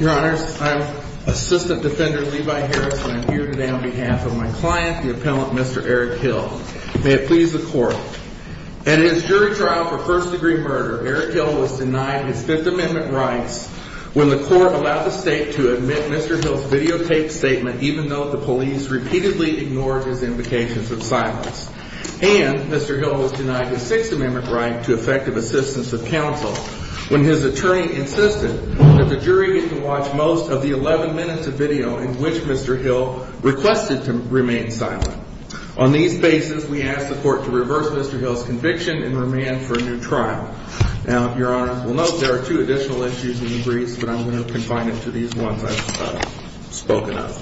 Your Honor, I'm Assistant Defender Levi Harris and I'm here today on behalf of my client, the appellant, Mr. Eric Hill. At his jury trial for first degree murder, Eric Hill was denied his Fifth Amendment rights when the court allowed the state to admit Mr. Hill's videotaped statement even though the police repeatedly ignored his invocations of silence. And Mr. Hill was denied his Sixth Amendment right to effective assistance of counsel when his attorney insisted that the jury be to watch most of the 11 minutes of video in which Mr. Hill requested to remain silent. On these basis, we ask the court to reverse Mr. Hill's conviction and remand for a new trial. Now, Your Honor, we'll note there are two additional issues in the briefs, but I'm going to confine it to these ones I've spoken of.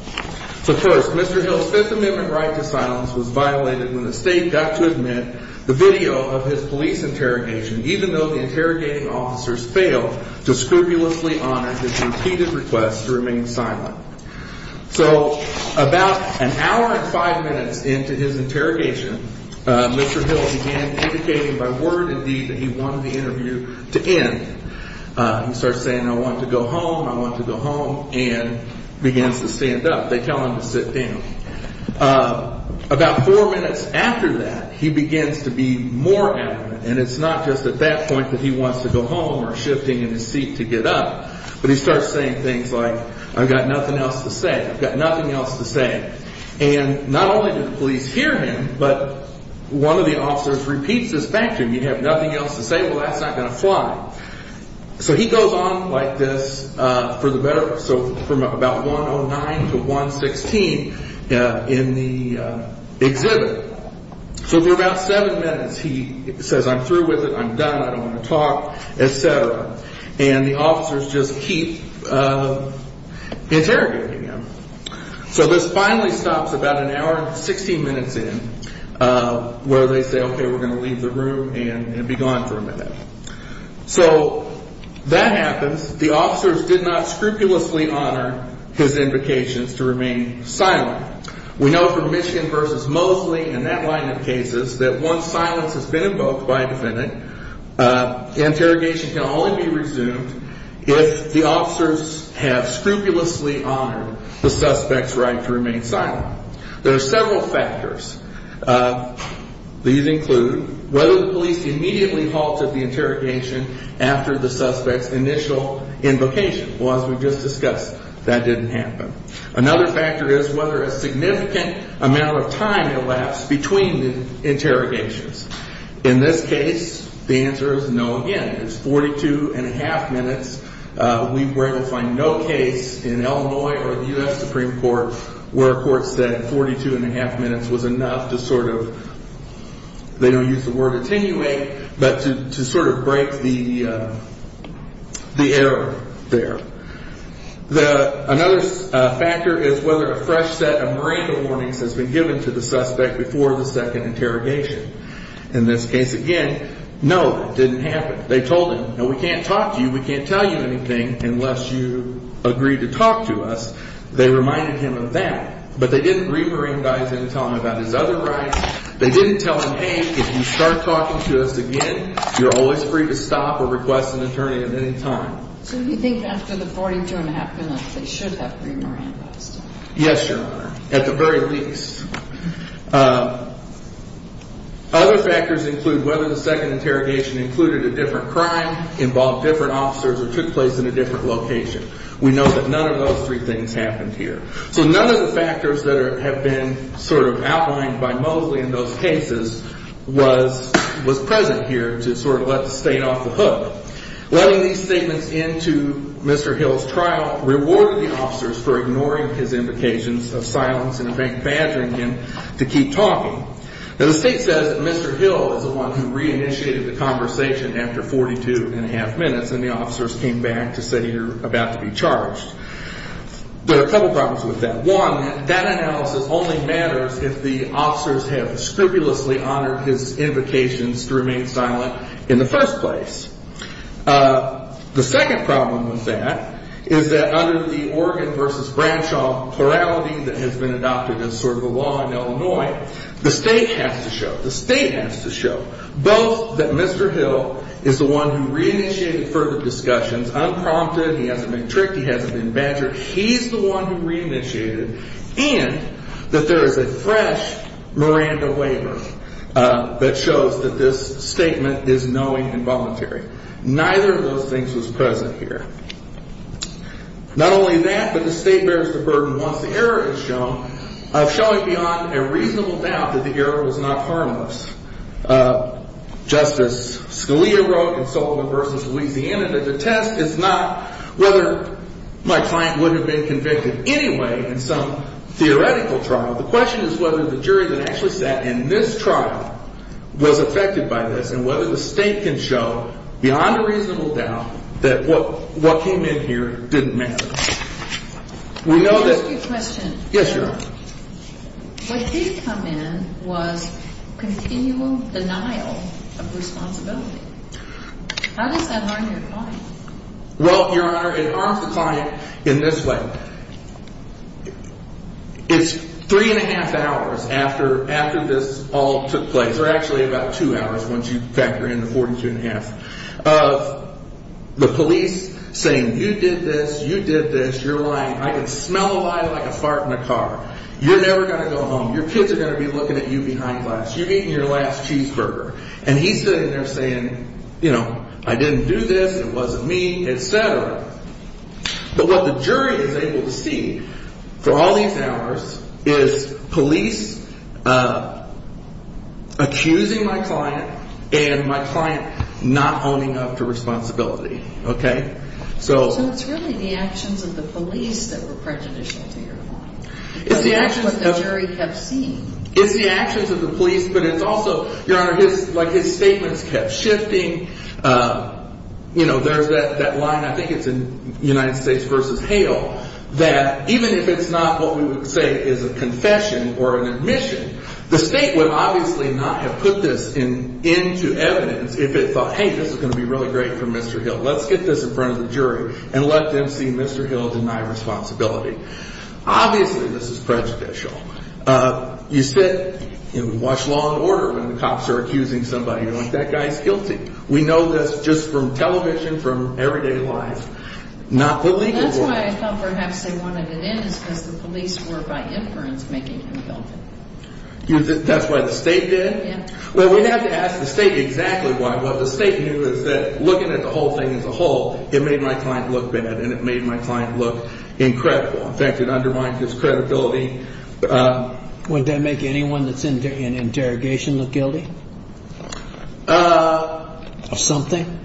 So first, Mr. Hill's Fifth Amendment right to silence was violated when the state got to admit the video of his police interrogation even though the interrogating officers failed to scrupulously honor his repeated requests to remain silent. So about an hour and five minutes into his interrogation, Mr. Hill began indicating by word and deed that he wanted the interview to end. He starts saying, I want to go home, I want to go home, and begins to stand up. They tell him to sit down. About four minutes after that, he begins to be more adamant. And it's not just at that point that he wants to go home or shifting in his seat to get up, but he starts saying things like, I've got nothing else to say. I've got nothing else to say. And not only did the police hear him, but one of the officers repeats this back to him. You have nothing else to say? Well, that's not going to fly. So he goes on like this for the better, so from about 109 to 116 in the exhibit. So for about seven minutes, he says, I'm through with it. I'm done. I don't want to talk, et cetera. And the officers just keep interrogating him. So this finally stops about an hour and 16 minutes in where they say, okay, we're going to leave the room and be gone for a minute. So that happens. The officers did not scrupulously honor his invocations to remain silent. We know from Michigan v. Mosley and that line of cases that once silence has been invoked by a defendant, interrogation can only be resumed if the officers have scrupulously honored the suspect's right to remain silent. There are several factors. These include whether the police immediately halted the interrogation after the suspect's initial invocation. Well, as we just discussed, that didn't happen. Another factor is whether a significant amount of time elapsed between the interrogations. In this case, the answer is no again. It's 42 and a half minutes. We were able to find no case in Illinois or the U.S. Supreme Court where a court said 42 and a half minutes was enough to sort of, they don't use the word attenuate, but to sort of break the error there. Another factor is whether a fresh set of Miranda warnings has been given to the suspect before the second interrogation. In this case, again, no, it didn't happen. They told him, no, we can't talk to you. We can't tell you anything unless you agree to talk to us. They reminded him of that, but they didn't re-Mirandaize him and tell him about his other rights. They didn't tell him, hey, if you start talking to us again, you're always free to stop or request an attorney at any time. So you think after the 42 and a half minutes, they should have re-Mirandaized him? Yes, Your Honor, at the very least. Other factors include whether the second interrogation included a different crime, involved different officers, or took place in a different location. We know that none of those three things happened here. So none of the factors that have been sort of outlined by Mosley in those cases was present here to sort of let the state off the hook. Letting these statements into Mr. Hill's trial rewarded the officers for ignoring his invocations of silence and in fact badgering him to keep talking. Now, the state says that Mr. Hill is the one who re-initiated the conversation after 42 and a half minutes, and the officers came back to say you're about to be charged. But a couple problems with that. One, that analysis only matters if the officers have scrupulously honored his invocations to remain silent in the first place. The second problem with that is that under the Oregon versus Bradshaw plurality that has been adopted as sort of a law in Illinois, the state has to show, the state has to show, both that Mr. Hill is the one who re-initiated further discussions, unprompted, he hasn't been tricked, he hasn't been badgered. He's the one who re-initiated and that there is a fresh Miranda waiver that shows that this statement is knowing and voluntary. Neither of those things was present here. Not only that, but the state bears the burden once the error is shown of showing beyond a reasonable doubt that the error was not harmless. Justice Scalia wrote in Salt Lake versus Louisiana that the test is not whether my client would have been convicted anyway in some theoretical trial. The question is whether the jury that actually sat in this trial was affected by this and whether the state can show beyond a reasonable doubt that what came in here didn't matter. Let me ask you a question. Yes, Your Honor. What did come in was continual denial of responsibility. How does that harm your client? Well, Your Honor, it harms the client in this way. It's three and a half hours after this all took place, or actually about two hours once you factor in the 42 and a half, of the police saying you did this, you did this, you're lying. I can smell a lie like a fart in a car. You're never going to go home. Your kids are going to be looking at you behind glass. You're eating your last cheeseburger. And he's sitting there saying, you know, I didn't do this, it wasn't me, etc. But what the jury is able to see for all these hours is police accusing my client and my client not owning up to responsibility. Okay. So it's really the actions of the police that were prejudicial to your client. Because that's what the jury kept seeing. It's the actions of the police, but it's also, Your Honor, his statements kept shifting. You know, there's that line, I think it's in United States v. Hale, that even if it's not what we would say is a confession or an admission, the state would obviously not have put this into evidence if it thought, hey, this is going to be really great for Mr. Hill. Let's get this in front of the jury and let them see Mr. Hill deny responsibility. Obviously, this is prejudicial. You sit and watch law and order when the cops are accusing somebody. You're like, that guy's guilty. We know this just from television, from everyday life. Not the legal world. That's why I thought perhaps they wanted it in is because the police were, by inference, making him guilty. That's why the state did? Yeah. Well, we have to ask the state exactly why. What the state knew is that looking at the whole thing as a whole, it made my client look bad and it made my client look incredible. In fact, it undermined his credibility. Would that make anyone that's in interrogation look guilty of something?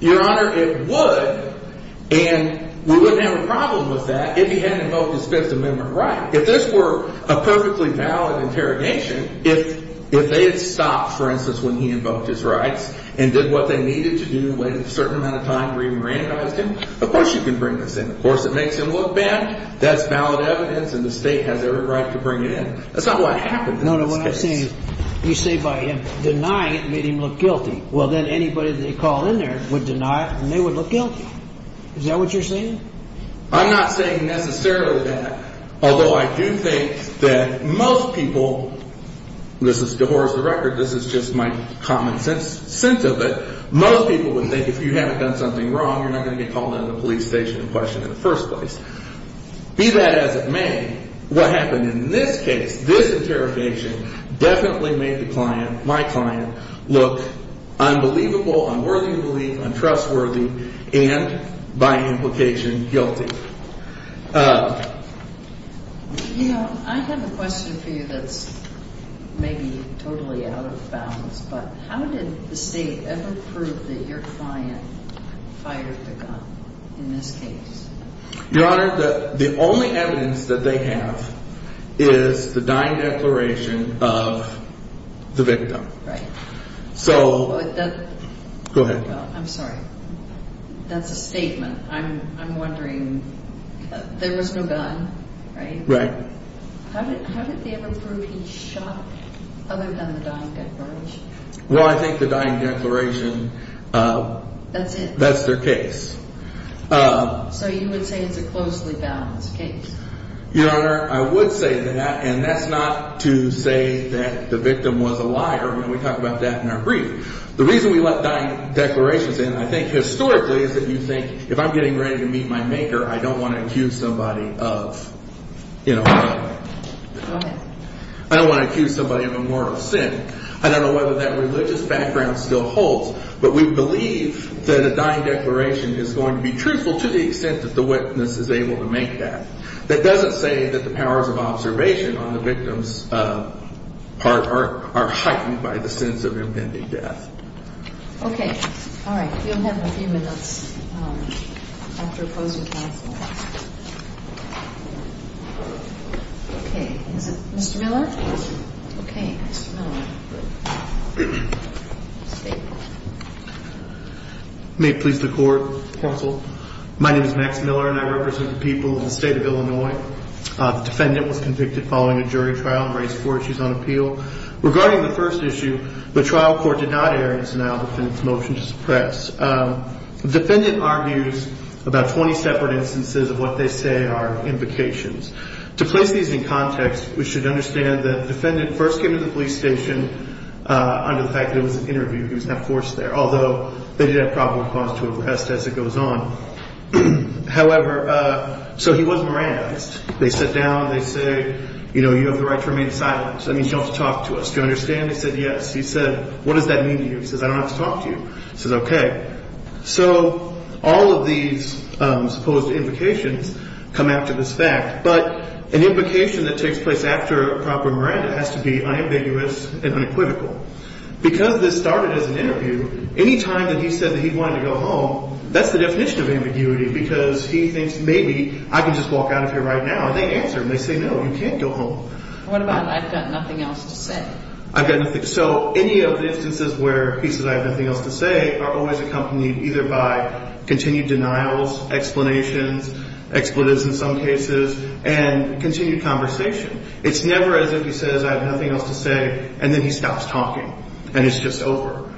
Your Honor, it would. And we wouldn't have a problem with that if he hadn't invoked his Fifth Amendment right. If this were a perfectly valid interrogation, if they had stopped, for instance, when he invoked his rights and did what they needed to do and waited a certain amount of time to re-mournize him, of course you can bring this in. Of course it makes him look bad. That's valid evidence and the state has every right to bring it in. That's not what happened in this case. No, no. What I'm saying is you say by him denying it made him look guilty. Well, then anybody they called in there would deny it and they would look guilty. Is that what you're saying? I'm not saying necessarily that, although I do think that most people, this is the horror of the record, this is just my common sense of it, most people would think if you haven't done something wrong, you're not going to get called out at the police station and questioned in the first place. Be that as it may, what happened in this case, this interrogation definitely made the client, my client, look unbelievable, unworthy of belief, untrustworthy, and by implication, guilty. You know, I have a question for you that's maybe totally out of bounds, but how did the state ever prove that your client fired the gun in this case? Your Honor, the only evidence that they have is the dying declaration of the victim. Right. So, go ahead. I'm sorry, that's a statement. I'm wondering, there was no gun, right? Right. How did they ever prove he shot other than the dying declaration? Well, I think the dying declaration, that's their case. So, you would say it's a closely balanced case? Your Honor, I would say that, and that's not to say that the victim was a liar, and we talk about that in our brief. The reason we let dying declarations in, I think, historically, is that you think, if I'm getting ready to meet my maker, I don't want to accuse somebody of, you know, I don't want to accuse somebody of a mortal sin. I don't know whether that religious background still holds, but we believe that a dying declaration is going to be truthful to the extent that the witness is able to make that. That doesn't say that the powers of observation on the victim's part are heightened by the sense of impending death. Okay. All right. We only have a few minutes after closing counsel. Okay. Is it Mr. Miller? Yes. Okay. Mr. Miller. May it please the Court, counsel. My name is Max Miller, and I represent the people of the state of Illinois. The defendant was convicted following a jury trial and raised four issues on appeal. Regarding the first issue, the trial court did not air its denial of the defendant's motion to suppress. The defendant argues about 20 separate instances of what they say are invocations. To place these in context, we should understand that the defendant first came to the police station under the fact that it was an interview. He was not forced there, although they did have probable cause to arrest as it goes on. However, so he was moranized. They sit down, they say, you know, you have the right to remain silent. That means you don't have to talk to us. Do you understand? He said, yes. He said, what does that mean to you? He says, I don't have to talk to you. He says, okay. So all of these supposed invocations come after this fact. But an invocation that takes place after a proper Miranda has to be unambiguous and unequivocal. Because this started as an interview, any time that he said that he wanted to go home, that's the definition of ambiguity. Because he thinks maybe I can just walk out of here right now. And they answer him. They say, no, you can't go home. What about I've got nothing else to say? I've got nothing. So any of the instances where he says I have nothing else to say are always accompanied either by continued denials, explanations, expletives in some cases, and continued conversation. It's never as if he says I have nothing else to say and then he stops talking and it's just over.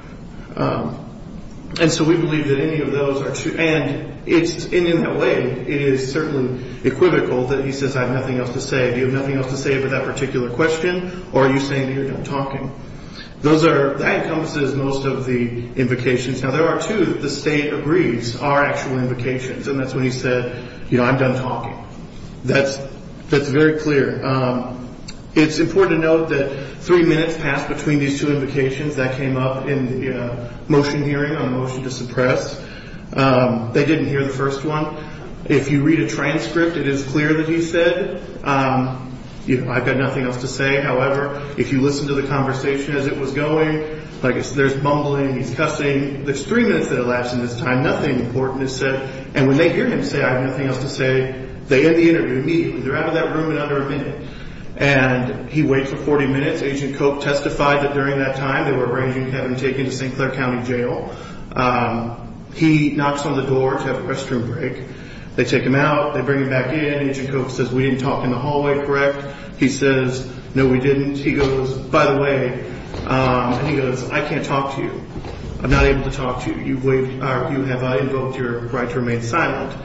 And so we believe that any of those are true. And in that way, it is certainly equivocal that he says I have nothing else to say. Do you have nothing else to say for that particular question? Or are you saying that you're done talking? That encompasses most of the invocations. Now, there are two that the state agrees are actual invocations, and that's when he said, you know, I'm done talking. That's very clear. It's important to note that three minutes passed between these two invocations. That came up in the motion hearing on a motion to suppress. They didn't hear the first one. If you read a transcript, it is clear that he said, you know, I've got nothing else to say. However, if you listen to the conversation as it was going, like there's mumbling, he's cussing. There's three minutes that elapsed in this time. Nothing important is said. And when they hear him say I have nothing else to say, they end the interview immediately. They're out of that room in under a minute. And he waits for 40 minutes. Agent Coke testified that during that time they were arranging to have him taken to St. Clair County Jail. He knocks on the door to have a restroom break. They take him out. They bring him back in. Agent Coke says, we didn't talk in the hallway, correct? He says, no, we didn't. He goes, by the way, and he goes, I can't talk to you. I'm not able to talk to you. You have, I invoked your right to remain silent.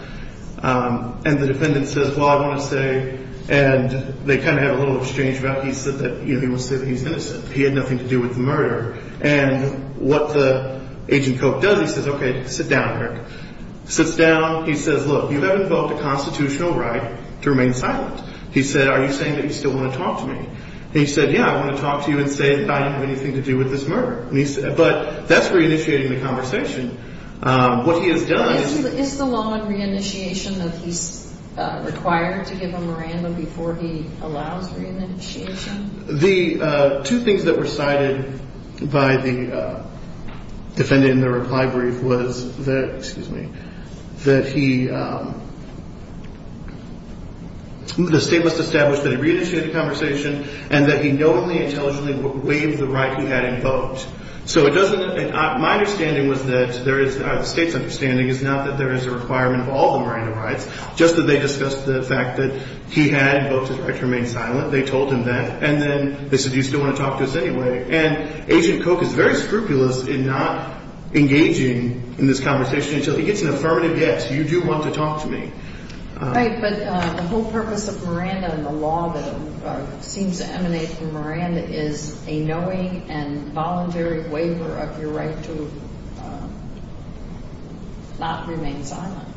And the defendant says, well, I want to say, and they kind of had a little exchange about he said that, you know, he wants to say that he's innocent. He had nothing to do with the murder. And what the agent Coke does, he says, okay, sit down, Eric. Sits down. He says, look, you have invoked a constitutional right to remain silent. He said, are you saying that you still want to talk to me? He said, yeah, I want to talk to you and say that I didn't have anything to do with this murder. But that's reinitiating the conversation. What he has done. Is the law on reinitiation that he's required to give a memorandum before he allows reinitiation? The two things that were cited by the defendant in the reply brief was that, excuse me, that he, the state must establish that he reinitiated the conversation and that he knowingly, intelligently waived the right he had invoked. So it doesn't, my understanding was that there is, the state's understanding is not that there is a requirement of all the memorandum rights, just that they discussed the fact that he had invoked his right to remain silent. They told him that. And then they said, you still want to talk to us anyway. And Agent Coke is very scrupulous in not engaging in this conversation until he gets an affirmative yes, you do want to talk to me. Right. But the whole purpose of Miranda and the law that seems to emanate from Miranda is a knowing and voluntary waiver of your right to not remain silent.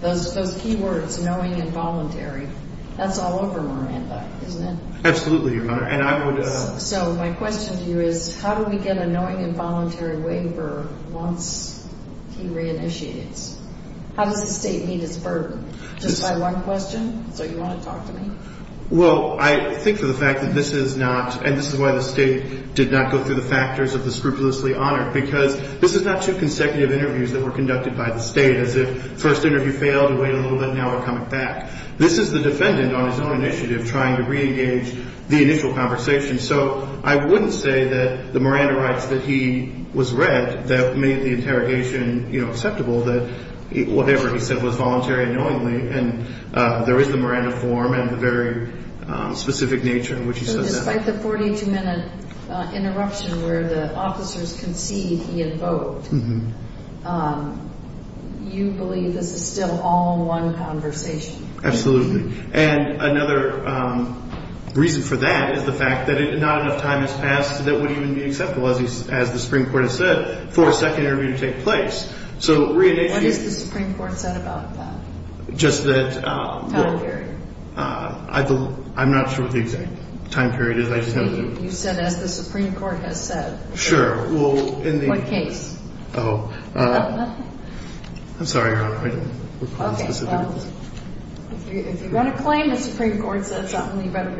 Those key words, knowing and voluntary, that's all over Miranda, isn't it? Absolutely, Your Honor. So my question to you is, how do we get a knowing and voluntary waiver once he reinitiates? How does the state meet its burden? Just by one question? So you want to talk to me? Well, I think for the fact that this is not, and this is why the state did not go through the factors of the scrupulously honored, because this is not two consecutive interviews that were conducted by the state as if first interview failed and wait a little bit and now we're coming back. This is the defendant on his own initiative trying to reengage the initial conversation. So I wouldn't say that the Miranda rights that he was read that made the interrogation acceptable, that whatever he said was voluntary and knowingly, and there is the Miranda form and the very specific nature in which he says that. Despite the 42-minute interruption where the officers concede he invoked, you believe this is still all one conversation? Absolutely. And another reason for that is the fact that not enough time has passed that would even be acceptable, as the Supreme Court has said, for a second interview to take place. What has the Supreme Court said about that? Time period. I'm not sure what the exact time period is. You said as the Supreme Court has said. Sure. In what case? I'm sorry, Your Honor. If you're going to claim the Supreme Court said something, you better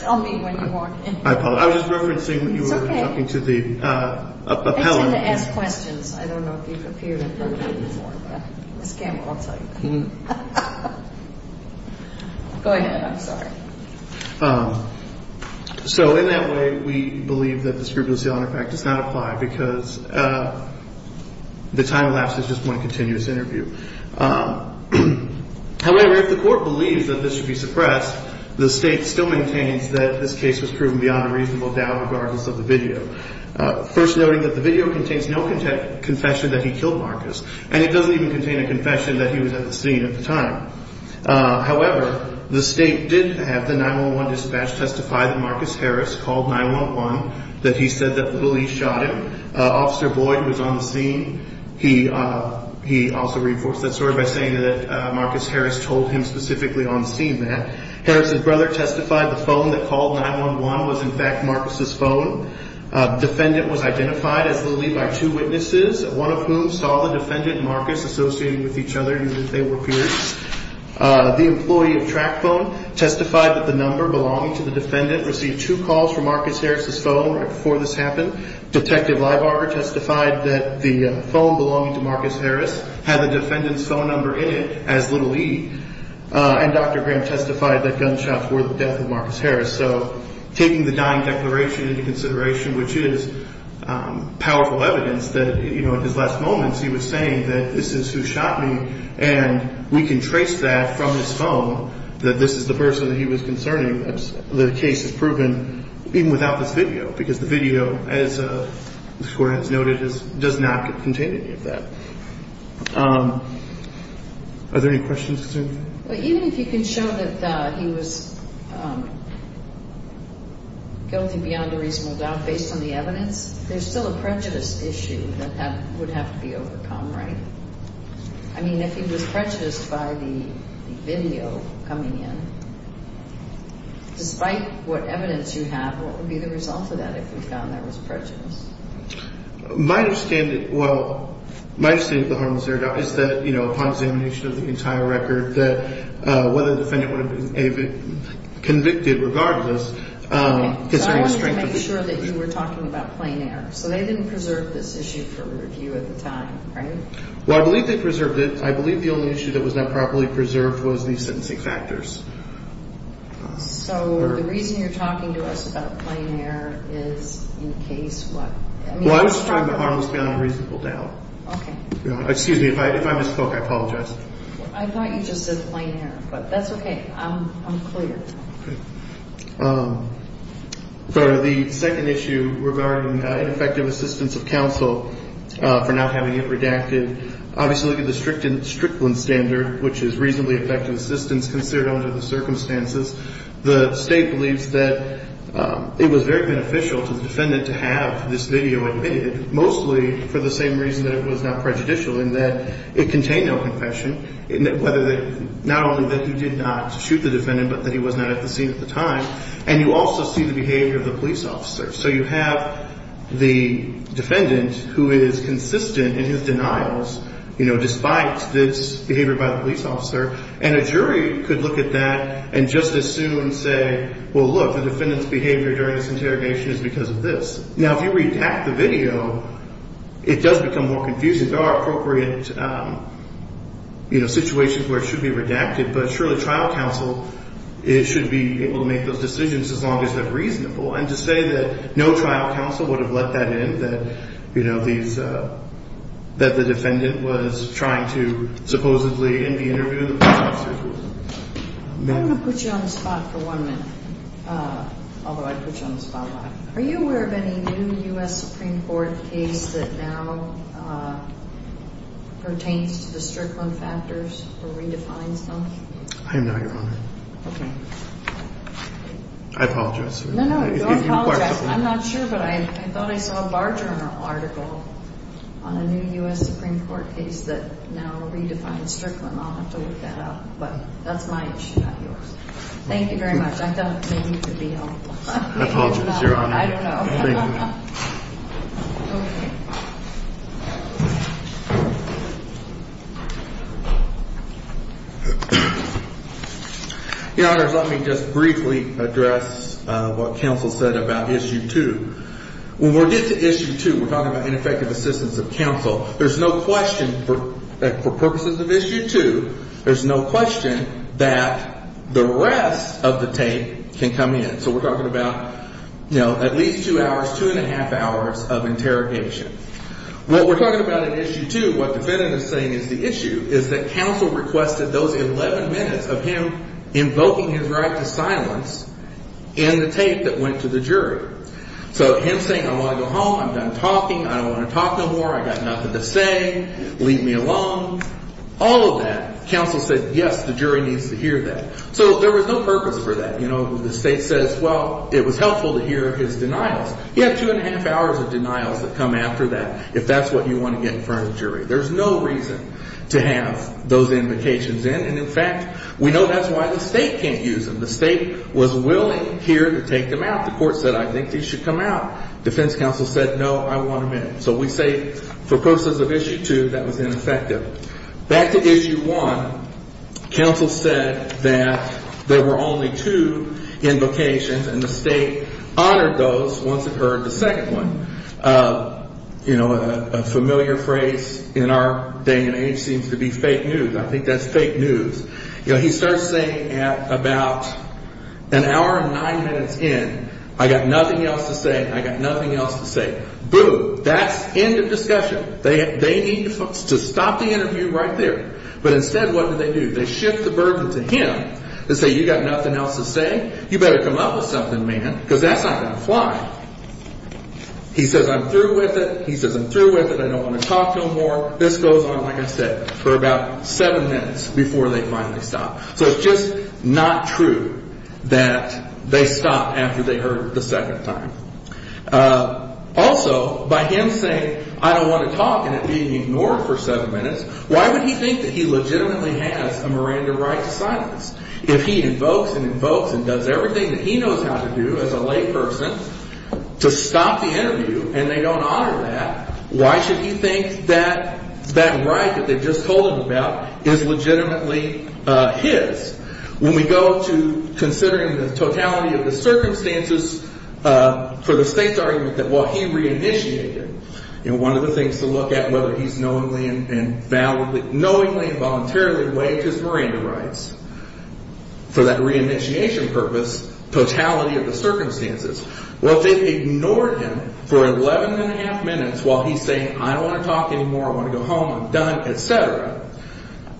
tell me when you are. I apologize. I was just referencing what you were talking to the appellant. It's time to ask questions. I don't know if you've appeared in front of me before. Ms. Campbell, I'll tell you. Go ahead. I'm sorry. So in that way, we believe that the scrupulously honored fact does not apply because the time elapsed is just one continuous interview. However, if the court believes that this should be suppressed, the State still maintains that this case was proven beyond a reasonable doubt regardless of the video, first noting that the video contains no confession that he killed Marcus, and it doesn't even contain a confession that he was at the scene at the time. However, the State did have the 911 dispatch testify that Marcus Harris called 911, that he said that the police shot him. Officer Boyd was on the scene. He also reinforced that story by saying that Marcus Harris told him specifically on the scene that. Harris's brother testified the phone that called 911 was, in fact, Marcus's phone. Defendant was identified as Little E by two witnesses, one of whom saw the defendant Marcus associating with each other even if they were peers. The employee of track phone testified that the number belonging to the defendant received two calls from Marcus Harris's phone right before this happened. Detective Leibarger testified that the phone belonging to Marcus Harris had the defendant's phone number in it as Little E. And Dr. Graham testified that gunshots were the death of Marcus Harris. So taking the dying declaration into consideration, which is powerful evidence that, you know, in his last moments he was saying that this is who shot me, and we can trace that from his phone, that this is the person that he was concerning. The case is proven even without this video because the video, as the court has noted, does not contain any of that. Are there any questions? Even if you can show that he was guilty beyond a reasonable doubt based on the evidence, there's still a prejudice issue that would have to be overcome, right? I mean, if he was prejudiced by the video coming in, despite what evidence you have, what would be the result of that if we found that was prejudice? My understanding, well, my understanding of the harmless error is that, you know, upon examination of the entire record, that whether the defendant would have been convicted regardless. So I wanted to make sure that you were talking about plain error. So they didn't preserve this issue for review at the time, right? Well, I believe they preserved it. I believe the only issue that was not properly preserved was the sentencing factors. So the reason you're talking to us about plain error is in case what? Well, I was just talking about harmless beyond a reasonable doubt. Okay. Excuse me. If I misspoke, I apologize. I thought you just said plain error, but that's okay. I'm clear. Okay. For the second issue regarding ineffective assistance of counsel for not having it redacted, obviously look at the Strickland standard, which is reasonably effective assistance considered under the circumstances. The State believes that it was very beneficial to the defendant to have this video admitted, mostly for the same reason that it was not prejudicial in that it contained no confession, not only that he did not shoot the defendant, but that he was not at the scene at the time. And you also see the behavior of the police officer. So you have the defendant who is consistent in his denials despite this behavior by the police officer, and a jury could look at that and just as soon say, well, look, the defendant's behavior during this interrogation is because of this. Now, if you redact the video, it does become more confusing. There are appropriate situations where it should be redacted, but surely trial counsel should be able to make those decisions as long as they're reasonable. And to say that no trial counsel would have let that in, that, you know, that the defendant was trying to supposedly in the interview the police officer. I'm going to put you on the spot for one minute, although I put you on the spotlight. Are you aware of any new U.S. Supreme Court case that now pertains to the Strickland factors or redefines them? I am not, Your Honor. Okay. I apologize for that. No, no, don't apologize. I'm not sure, but I thought I saw a Bar Journal article on a new U.S. Supreme Court case that now redefines Strickland. I'll have to look that up, but that's my issue, not yours. Thank you very much. I thought maybe you could be helpful. I apologize, Your Honor. I don't know. Thank you. Okay. Your Honor, let me just briefly address what counsel said about Issue 2. When we get to Issue 2, we're talking about ineffective assistance of counsel. There's no question for purposes of Issue 2, there's no question that the rest of the tape can come in. So we're talking about, you know, at least two hours, two and a half hours of interrogation. When we're talking about Issue 2, what the defendant is saying is the issue is that counsel requested those 11 minutes of him invoking his right to silence in the tape that went to the jury. So him saying, I want to go home, I'm done talking, I don't want to talk no more, I got nothing to say, leave me alone, all of that, counsel said, yes, the jury needs to hear that. So there was no purpose for that. You know, the state says, well, it was helpful to hear his denials. He had two and a half hours of denials that come after that if that's what you want to get in front of the jury. There's no reason to have those invocations in, and in fact, we know that's why the state can't use them. The state was willing here to take them out. The court said, I think these should come out. Defense counsel said, no, I want them in. So we say for purposes of Issue 2, that was ineffective. Back to Issue 1, counsel said that there were only two invocations, and the state honored those once it heard the second one. You know, a familiar phrase in our day and age seems to be fake news. I think that's fake news. You know, he starts saying at about an hour and nine minutes in, I got nothing else to say, I got nothing else to say. Boom, that's end of discussion. They need to stop the interview right there. But instead, what do they do? They shift the burden to him and say, you got nothing else to say? You better come up with something, man, because that's not going to fly. He says, I'm through with it. He says, I'm through with it. I don't want to talk no more. This goes on, like I said, for about seven minutes before they finally stop. So it's just not true that they stop after they heard the second time. Also, by him saying, I don't want to talk and it being ignored for seven minutes, why would he think that he legitimately has a Miranda right to silence? If he invokes and invokes and does everything that he knows how to do as a layperson to stop the interview and they don't honor that, why should he think that that right that they just told him about is legitimately his? When we go to considering the totality of the circumstances for the state's argument that while he re-initiated, and one of the things to look at whether he's knowingly and voluntarily waived his Miranda rights for that re-initiation purpose, totality of the circumstances. Well, if they've ignored him for 11 1⁄2 minutes while he's saying, I don't want to talk anymore, I want to go home, I'm done, et cetera,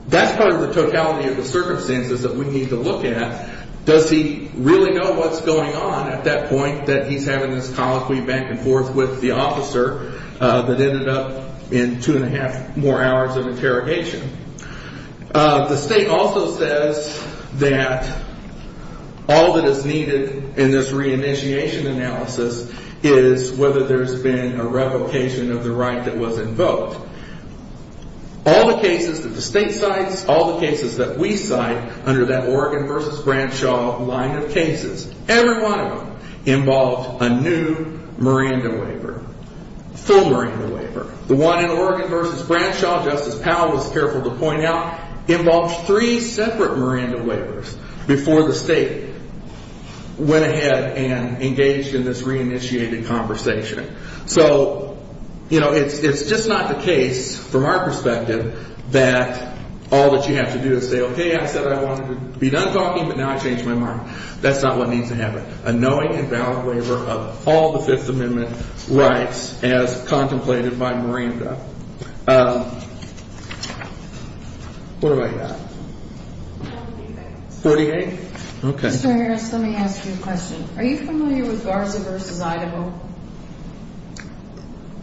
that's part of the totality of the circumstances that we need to look at. Does he really know what's going on at that point that he's having this colloquy back and forth with the officer that ended up in two and a half more hours of interrogation? The state also says that all that is needed in this re-initiation analysis is whether there's been a revocation of the right that was invoked. All the cases that the state cites, all the cases that we cite under that Oregon versus Branshaw line of cases, every one of them involved a new Miranda waiver, full Miranda waiver. The one in Oregon versus Branshaw, Justice Powell was careful to point out, involved three separate Miranda waivers before the state went ahead and engaged in this re-initiated conversation. So, you know, it's just not the case from our perspective that all that you have to do is say, okay, I said I wanted to be done talking, but now I changed my mind. That's not what needs to happen. A knowing and valid waiver of all the Fifth Amendment rights as contemplated by Miranda. What do I got? 48? Okay. Mr. Harris, let me ask you a question. Are you familiar with Garza versus Idaho?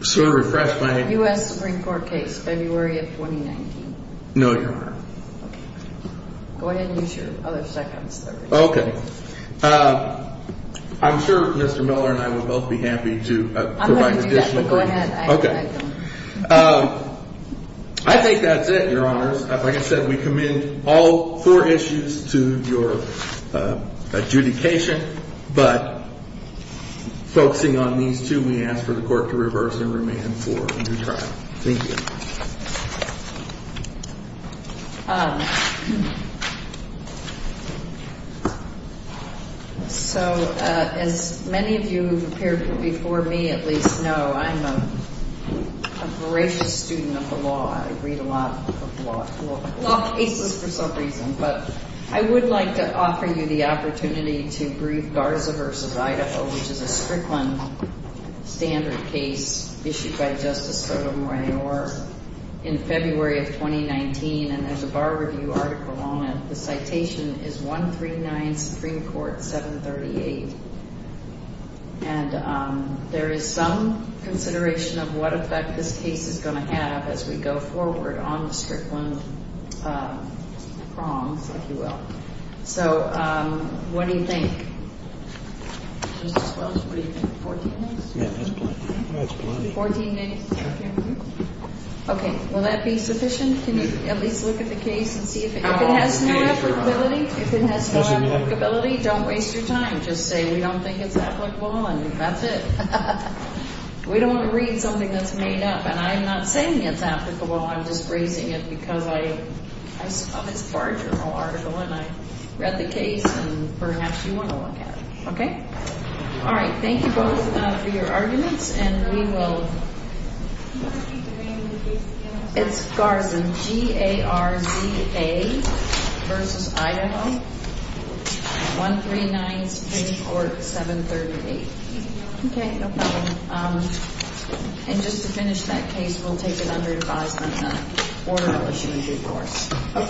Sir, refresh my. U.S. Supreme Court case, February of 2019. No, Your Honor. Okay. Go ahead and use your other seconds there. Okay. I'm sure Mr. Miller and I would both be happy to provide additional. I'm going to do that, but go ahead. Okay. I think that's it, Your Honors. Like I said, we commend all four issues to your adjudication, but focusing on these two, we ask for the court to reverse and remand for a new trial. Thank you. So as many of you who have appeared before me at least know, I'm a voracious student of the law. I read a lot of law cases for some reason. But I would like to offer you the opportunity to brief Garza versus Idaho, which is a Strickland standard case issued by Justice Sotomayor in February of 2019. And there's a bar review article on it. The citation is 139 Supreme Court 738. And there is some consideration of what effect this case is going to have as we go forward on the Strickland prongs, if you will. So what do you think? Justice Welch, what do you think, 14 minutes? Yeah, that's plenty. That's plenty. 14 minutes. Okay. Will that be sufficient? Can you at least look at the case and see if it has no applicability? If it has no applicability, don't waste your time. Just say we don't think it's applicable, and that's it. We don't want to read something that's made up. And I'm not saying it's applicable. I'm just raising it because I saw this bar journal article, and I read the case. And perhaps you want to look at it. All right. Thank you both for your arguments. Can you repeat the name of the case again? It's Garza, G-A-R-Z-A versus Idaho, 139 Supreme Court 738. Okay. No problem. And just to finish that case, we'll take it under advisement then. Or we'll issue a due course. Okay.